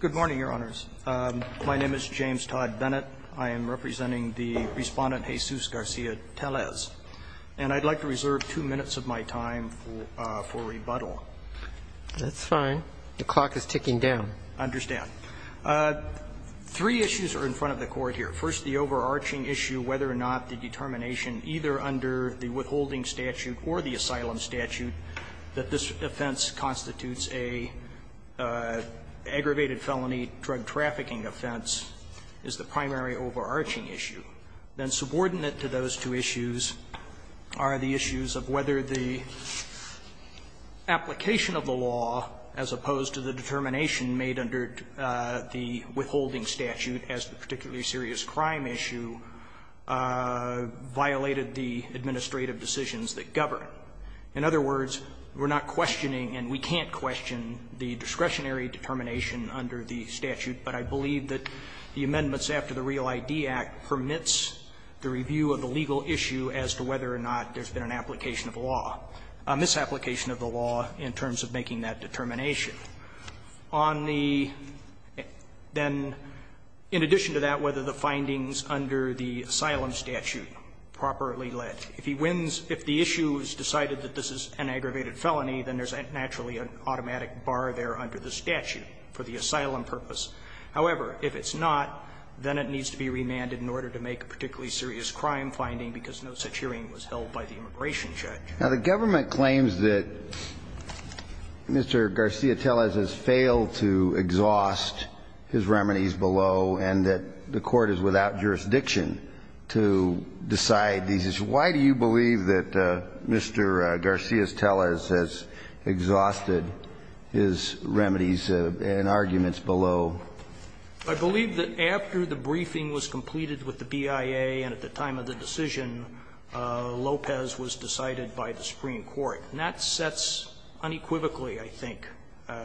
Good morning, Your Honors. My name is James Todd Bennett. I am representing the Respondent Jesus Garcia-Tellez, and I'd like to reserve two minutes of my time for rebuttal. That's fine. The clock is ticking down. I understand. Three issues are in front of the Court here. First, the overarching issue whether or not the determination, either under the withholding statute or the asylum statute, that this offense constitutes an aggravated felony drug-trafficking offense is the primary overarching issue. Then subordinate to those two issues are the issues of whether the application of the law, as opposed to the determination made under the withholding statute as the particularly serious crime issue, violated the administrative decisions that govern. In other words, we're not questioning and we can't question the discretionary determination under the statute, but I believe that the amendments after the Real I.D. Act permits the review of the legal issue as to whether or not there's been an application of the law, a misapplication of the law in terms of making that determination. On the then, in addition to that, whether the findings under the asylum statute are properly lit, if he wins, if the issue is decided that this is an aggravated felony, then there's naturally an automatic bar there under the statute for the asylum purpose. However, if it's not, then it needs to be remanded in order to make a particularly serious crime finding, because no such hearing was held by the immigration judge. Now, the government claims that Mr. Garcia-Tellez has failed to exhaust his remedies below and that the Court is without jurisdiction to decide these issues. Why do you believe that Mr. Garcia-Tellez has exhausted his remedies and arguments below? I believe that after the briefing was completed with the BIA and at the time of the decision, Lopez was decided by the Supreme Court. And that sets unequivocally, I think,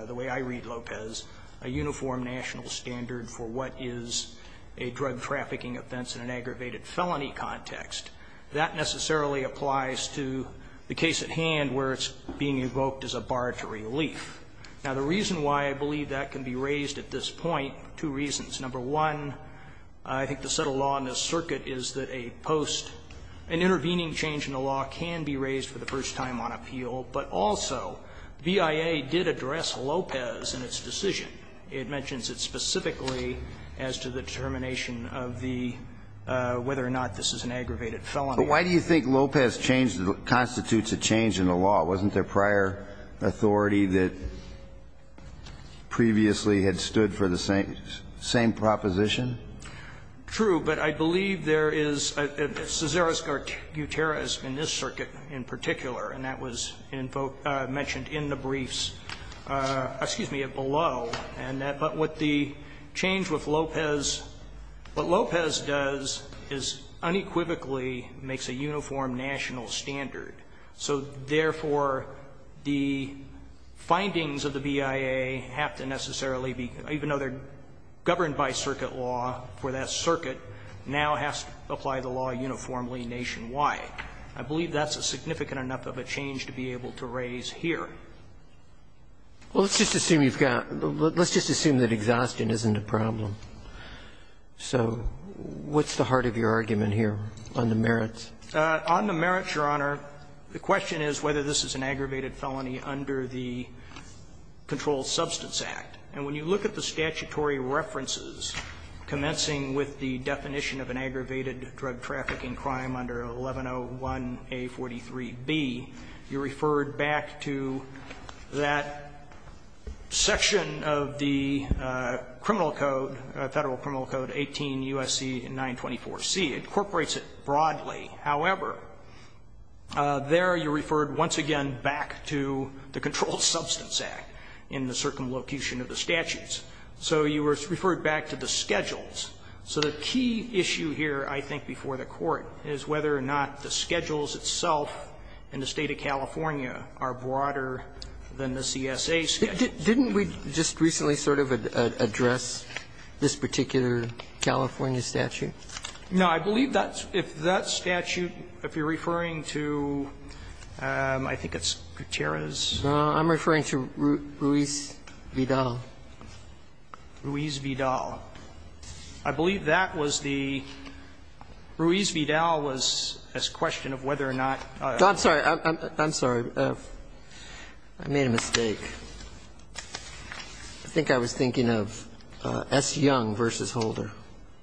the way I read Lopez, a uniform national standard for what is a drug trafficking offense in an aggravated felony context. That necessarily applies to the case at hand where it's being evoked as a bar to relief. Now, the reason why I believe that can be raised at this point, two reasons. Number one, I think the set of law in this circuit is that a post, an intervening change in the law can be raised for the first time on appeal, but also BIA did address Lopez in its decision. It mentions it specifically as to the determination of the whether or not this is an aggravated felony. But why do you think Lopez changed the law, constitutes a change in the law? Wasn't there prior authority that previously had stood for the same proposition? True, but I believe there is a caesareus guterres in this circuit in particular, and that was mentioned in the briefs, excuse me, below, and that what the change with Lopez, what Lopez does is unequivocally makes a uniform national standard. So therefore, the findings of the BIA have to necessarily be, even though they're governed by circuit law for that circuit, now has to apply the law uniformly nationwide. I believe that's a significant enough of a change to be able to raise here. Well, let's just assume you've got the let's just assume that exhaustion isn't a problem. So what's the heart of your argument here on the merits? On the merits, Your Honor, the question is whether this is an aggravated felony under the Controlled Substance Act. And when you look at the statutory references commencing with the definition of an aggravated drug trafficking crime under 1101A.43b, you referred back to that section of the criminal code, Federal Criminal Code, 18 U.S.C. 924C. It incorporates it broadly. However, there you referred once again back to the Controlled Substance Act in the circumlocution of the statutes. So you referred back to the schedules. So the key issue here, I think, before the Court is whether or not the schedules itself in the State of California are broader than the CSA statute. Didn't we just recently sort of address this particular California statute? No. I believe that's that statute, if you're referring to, I think it's Gutierrez. No. I'm referring to Ruiz Vidal. Ruiz Vidal. I believe that was the Ruiz Vidal was a question of whether or not. I'm sorry. I'm sorry. I made a mistake. I think I was thinking of S. Young v. Holder.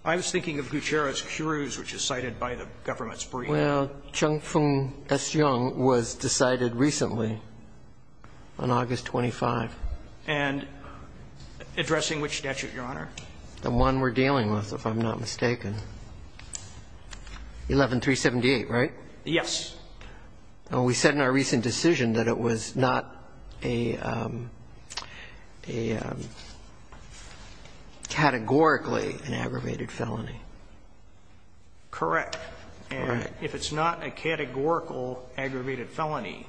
I was thinking of Gutierrez-Cruz, which is cited by the government's brief. Well, Chung-Fung S. Young was decided recently on August 25. And addressing which statute, Your Honor? The one we're dealing with, if I'm not mistaken. 11-378, right? Yes. We said in our recent decision that it was not a categorically an aggravated felony. Correct. And if it's not a categorical aggravated felony,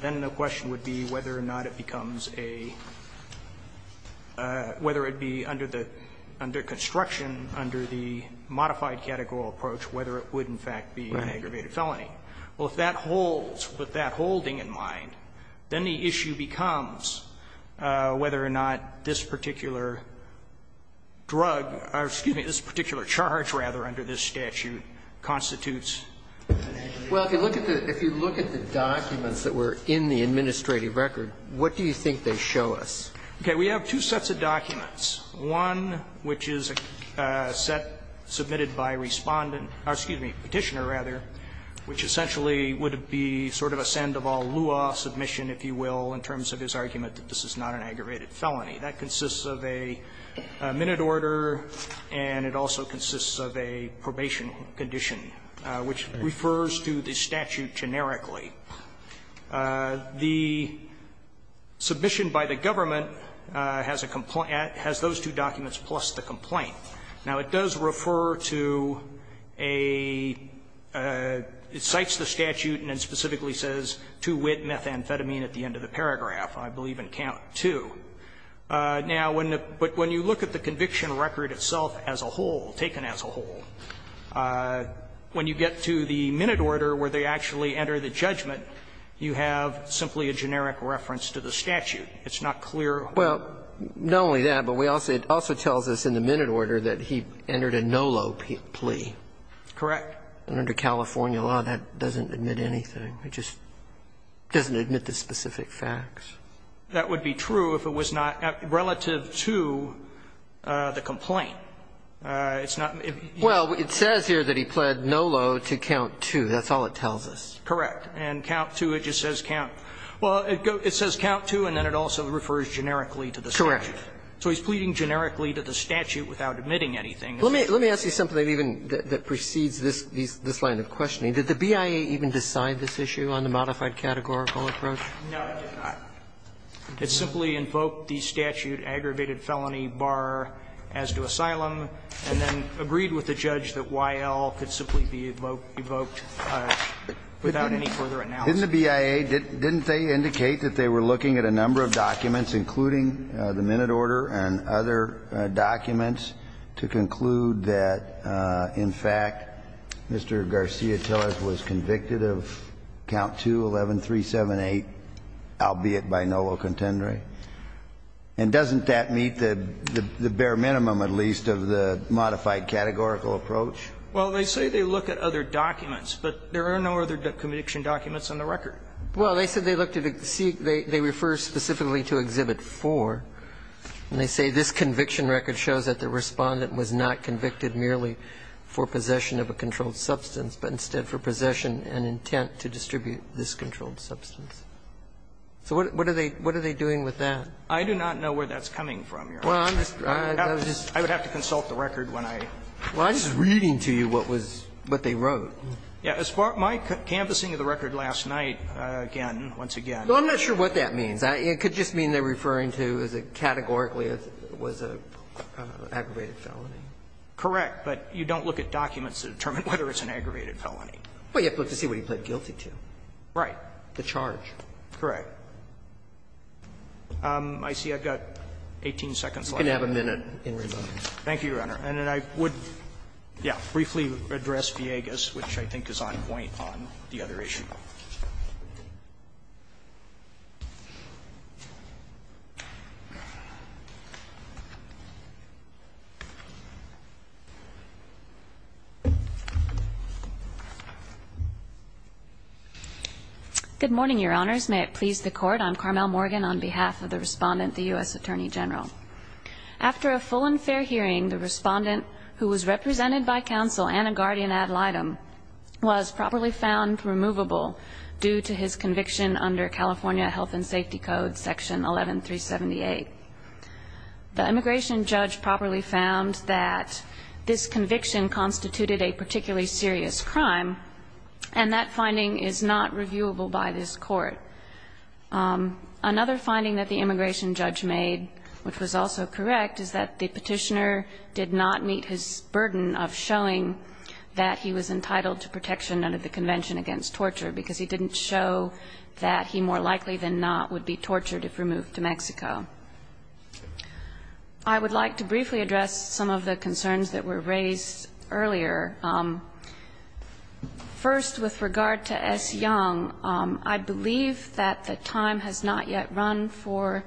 then the question would be whether or not it becomes a, whether it be under the, under construction, under the modified categorical approach, whether it would, in fact, be an aggravated felony. Well, if that holds, with that holding in mind, then the issue becomes whether or not this particular drug, or excuse me, this particular charge, rather, under this statute constitutes an aggravated felony. What do you think they show us? Okay. We have two sets of documents. One, which is a set submitted by Respondent, or excuse me, Petitioner, rather, which essentially would be sort of a Sandoval-Lua submission, if you will, in terms of his argument that this is not an aggravated felony. That consists of a minute order, and it also consists of a probation condition, which refers to the statute generically. The submission by the government has a complaint, has those two documents plus the complaint. Now, it does refer to a, it cites the statute and then specifically says, to wit methamphetamine at the end of the paragraph, I believe in count 2. Now, when the, but when you look at the conviction record itself as a whole, taken as a whole, when you get to the minute order where they actually enter the judgment, you have simply a generic reference to the statute. It's not clear. Well, not only that, but we also, it also tells us in the minute order that he entered a NOLO plea. Correct. And under California law, that doesn't admit anything. It just doesn't admit the specific facts. That would be true if it was not relative to the complaint. It's not. Well, it says here that he pled NOLO to count 2. That's all it tells us. Correct. And count 2, it just says count. Well, it says count 2, and then it also refers generically to the statute. Correct. So he's pleading generically to the statute without admitting anything. Let me ask you something that even, that precedes this line of questioning. Did the BIA even decide this issue on the modified categorical approach? No, it did not. It simply invoked the statute, aggravated felony bar as to asylum, and then agreed with the judge that Y.L. could simply be evoked without any further analysis. Didn't the BIA, didn't they indicate that they were looking at a number of documents, including the minute order and other documents, to conclude that, in fact, Mr. Garcia was convicted of count 2, 11, 378, albeit by NOLO contendere? And doesn't that meet the bare minimum, at least, of the modified categorical approach? Well, they say they look at other documents, but there are no other conviction documents on the record. Well, they said they looked at the C. They refer specifically to Exhibit 4, and they say this conviction record shows that the Respondent was not convicted merely for possession of a controlled substance, but instead for possession and intent to distribute this controlled substance. So what are they doing with that? I do not know where that's coming from, Your Honor. I would have to consult the record when I'm reading to you what was, what they wrote. As far as my canvassing of the record last night, again, once again. I'm not sure what that means. It could just mean they're referring to categorically it was an aggravated felony. Correct. But you don't look at documents to determine whether it's an aggravated felony. Well, you have to look to see what he pled guilty to. Right. The charge. Correct. I see I've got 18 seconds left. You can have a minute in remainder. Thank you, Your Honor. And then I would, yes, briefly address Viegas, which I think is on point on the other issue. Good morning, Your Honors. May it please the court. I'm Carmel Morgan on behalf of the respondent, the U.S. Attorney General. After a full and fair hearing, the respondent who was represented by counsel, and a guardian ad litem, was properly found removable due to his conviction under California Health and Safety Code, Section 11378. The immigration judge properly found that this conviction constituted a particularly serious crime, and that finding is not reviewable by this Court. Another finding that the immigration judge made, which was also correct, is that the Petitioner did not meet his burden of showing that he was entitled to protection under the Convention Against Torture, because he didn't show that he more likely than not would be tortured if removed to Mexico. I would like to briefly address some of the concerns that were raised earlier. First, with regard to S. Young, I believe that the time has not yet run for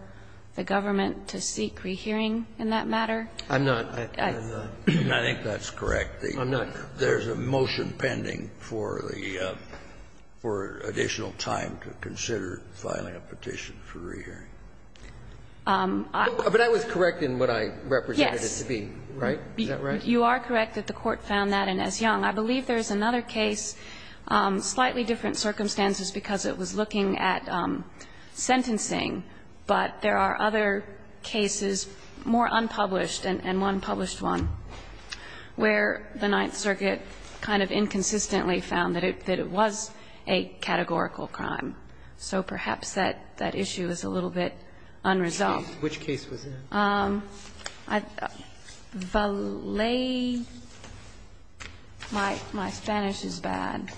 the government to seek rehearing in that matter. I'm not. I think that's correct. I'm not. There's a motion pending for the for additional time to consider filing a petition for rehearing. But I was correct in what I represented it to be, right? Is that right? You are correct that the Court found that in S. Young. I believe there's another case, slightly different circumstances, because it was looking at sentencing, but there are other cases, more unpublished, and one published one, where the Ninth Circuit kind of inconsistently found that it was a categorical crime. So perhaps that issue is a little bit unresolved. Which case was that? Valet. My Spanish is bad.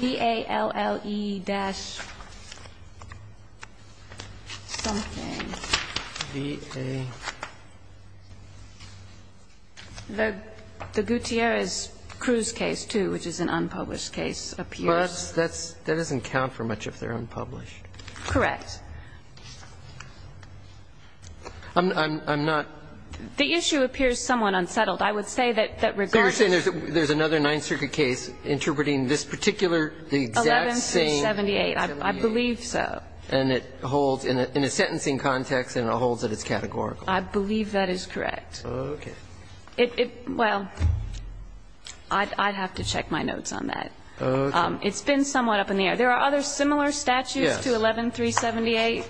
The Gutierrez-Cruz case, too, which is an unpublished case, appears. But that doesn't count for much if they're unpublished. Correct. I'm not. The issue appears somewhat unsettled. I would say that regardless of the case, there's another Ninth Circuit case interpreting this particular, the exact same. 11-378, I believe so. And it holds, in a sentencing context, and it holds that it's categorical. I believe that is correct. Okay. It, well, I'd have to check my notes on that. Okay. It's been somewhat up in the air. There are other similar statutes to 11-378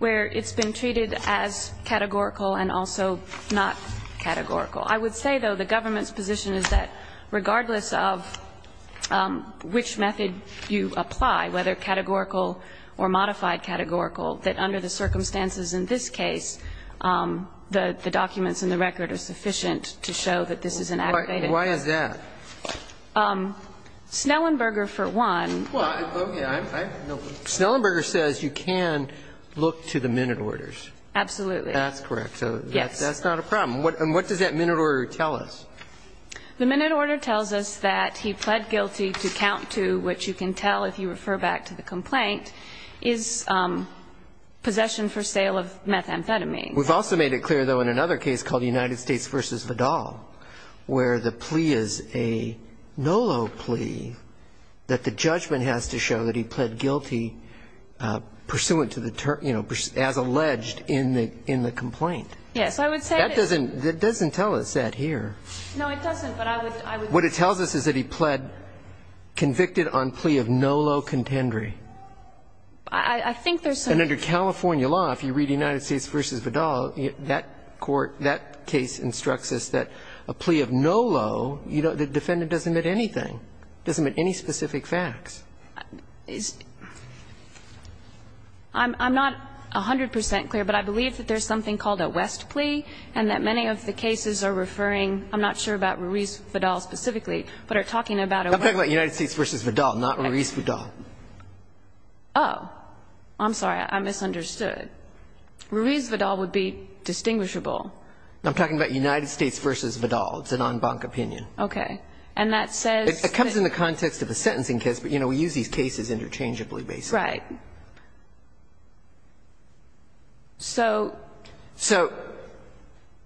where it's been treated as categorical and also not categorical. I would say, though, the government's position is that regardless of which method you apply, whether categorical or modified categorical, that under the circumstances in this case, the documents in the record are sufficient to show that this is an activated case. Why is that? Snellenberger, for one. Snellenberger says you can look to the minute orders. Absolutely. That's correct. So that's not a problem. And what does that minute order tell us? The minute order tells us that he pled guilty to count to, which you can tell if you refer back to the complaint, is possession for sale of methamphetamine. We've also made it clear, though, in another case called United States v. Vidal, where the plea is a NOLO plea that the judgment has to show that he pled guilty pursuant to the, you know, as alleged in the complaint. Yes. I would say that doesn't tell us that here. No, it doesn't, but I would. What it tells us is that he pled convicted on plea of NOLO contendery. I think there's some. And under California law, if you read United States v. Vidal, that court, that case instructs us that a plea of NOLO, the defendant doesn't admit anything, doesn't admit any specific facts. I'm not 100 percent clear, but I believe that there's something called a West plea and that many of the cases are referring, I'm not sure about Ruiz-Vidal specifically, but are talking about a West plea. I'm talking about United States v. Vidal, not Ruiz-Vidal. Oh, I'm sorry. I misunderstood. Ruiz-Vidal would be distinguishable. I'm talking about United States v. Vidal. It's a non-bank opinion. Okay. And that says that the case is interchangeably based. Right. So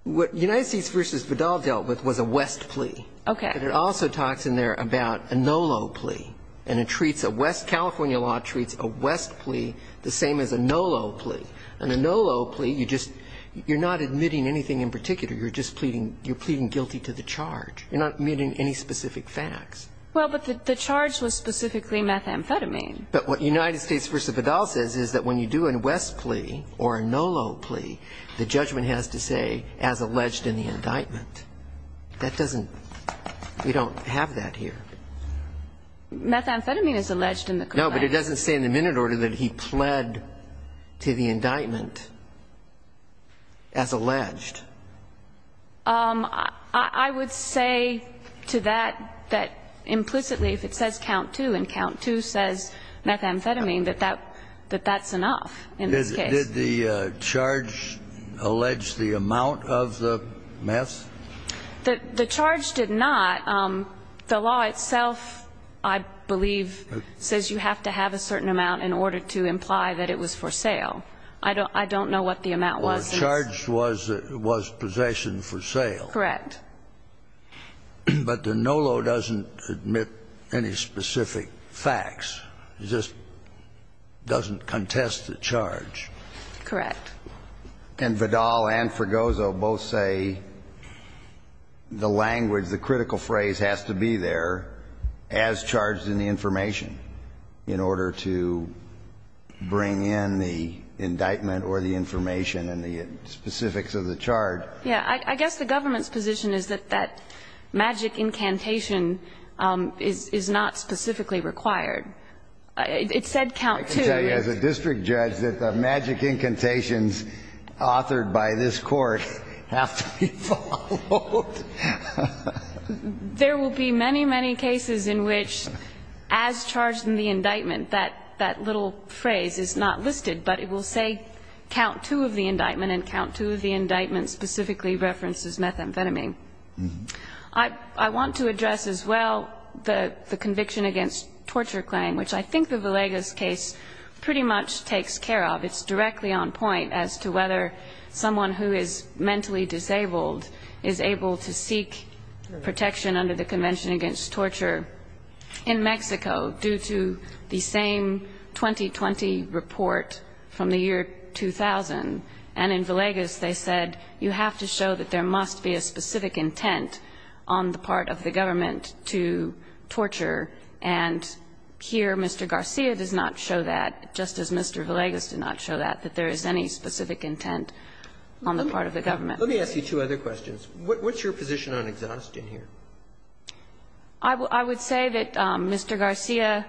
what United States v. Vidal dealt with was a West plea. Okay. But it also talks in there about a NOLO plea. And it treats a West, California law treats a West plea the same as a NOLO plea. On a NOLO plea, you're not admitting anything in particular. You're just pleading, you're pleading guilty to the charge. You're not admitting any specific facts. Well, but the charge was specifically methamphetamine. But what United States v. Vidal says is that when you do a West plea or a NOLO plea, the judgment has to say, as alleged in the indictment. That doesn't we don't have that here. Methamphetamine is alleged in the complaint. No, but it doesn't say in the minute order that he pled to the indictment as alleged. I would say to that, that implicitly, if it says count two and count two says, methamphetamine, that that's enough in this case. Did the charge allege the amount of the meth? The charge did not. The law itself, I believe, says you have to have a certain amount in order to imply that it was for sale. I don't know what the amount was. Well, the charge was possession for sale. Correct. But the NOLO doesn't admit any specific facts. It just doesn't contest the charge. Correct. And Vidal and Fregoso both say the language, the critical phrase has to be there as charged in the information in order to bring in the indictment or the information and the specifics of the charge. Yeah, I guess the government's position is that magic incantation is not specifically required. It said count two. I can tell you as a district judge that the magic incantations authored by this court have to be followed. There will be many, many cases in which as charged in the indictment, that little phrase is not listed, but it will say count two of the indictment and count two of the indictment specifically references methamphetamine. I want to address as well the conviction against torture claim, which I think the Villegas case pretty much takes care of. It's directly on point as to whether someone who is mentally disabled is able to seek protection under the Convention Against Torture in Mexico due to the same 2020 report from the year 2000. And in Villegas, they said you have to show that there must be a specific intent on the part of the government to torture. And here Mr. Garcia does not show that, just as Mr. Villegas did not show that, that there is any specific intent on the part of the government. Let me ask you two other questions. What's your position on exhaust in here? I would say that Mr. Garcia,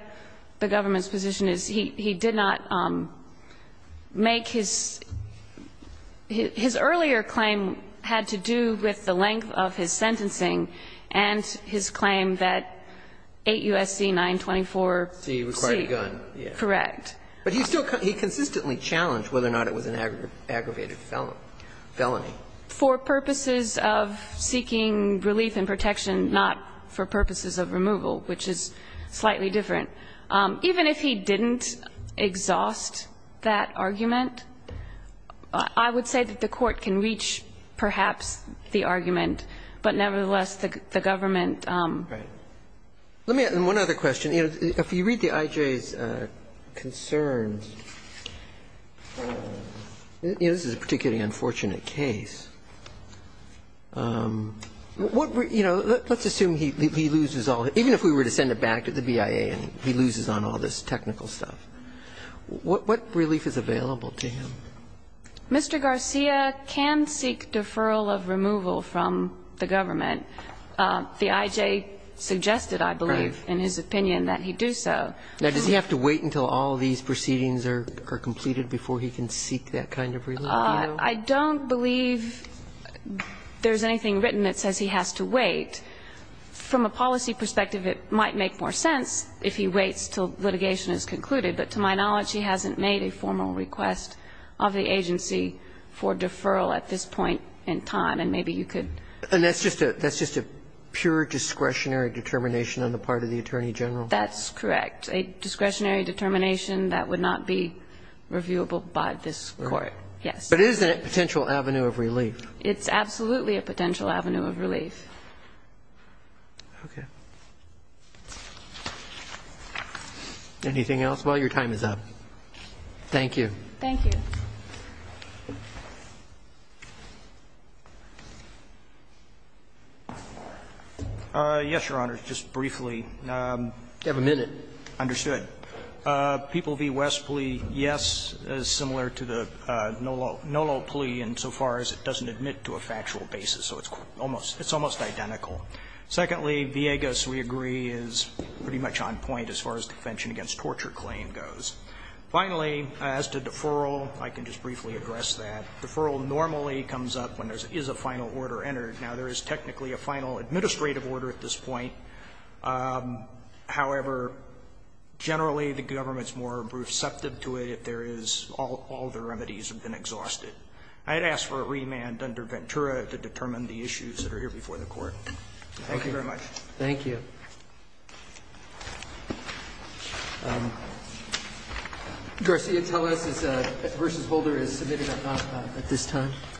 the government's position is he did not make his earlier claim had to do with the length of his sentencing and his claim that 8 U.S.C. 924-C required a gun. Correct. But he still he consistently challenged whether or not it was an aggravated felony. For purposes of seeking relief and protection, not for purposes of removal, which is slightly different. Even if he didn't exhaust that argument, I would say that the Court can reach perhaps the argument, but nevertheless, the government. Right. Let me ask one other question. If you read the IJ's concerns, this is a particularly unfortunate case. What were, you know, let's assume he loses all, even if we were to send it back to the BIA and he loses on all this technical stuff, what relief is available to him? Mr. Garcia can seek deferral of removal from the government. The IJ suggested, I believe, in his opinion, that he do so. Now, does he have to wait until all of these proceedings are completed before he can seek that kind of relief? I don't believe there's anything written that says he has to wait. From a policy perspective, it might make more sense if he waits until litigation is concluded, but to my knowledge, he hasn't made a formal request of the agency for deferral at this point in time, and maybe you could. And that's just a pure discretionary determination on the part of the Attorney General? That's correct. A discretionary determination that would not be reviewable by this Court, yes. But isn't it a potential avenue of relief? It's absolutely a potential avenue of relief. Okay. Anything else? Well, your time is up. Thank you. Thank you. Yes, Your Honor, just briefly. You have a minute. Understood. People v. West plea, yes, is similar to the Nolo plea insofar as it doesn't admit to a factual basis. So it's almost identical. Secondly, Villegas, we agree, is pretty much on point as far as the defension against torture claim goes. Finally, as to deferral, I can just briefly address that. Deferral normally comes up when there is a final order entered. Now, there is technically a final administrative order at this point. However, generally, the government's more receptive to it if there is all the remedies have been exhausted. I'd ask for a remand under Ventura to determine the issues that are here before the Court. Thank you very much. Thank you. Garcia, tell us, is a v. Holder is submitted or not at this time?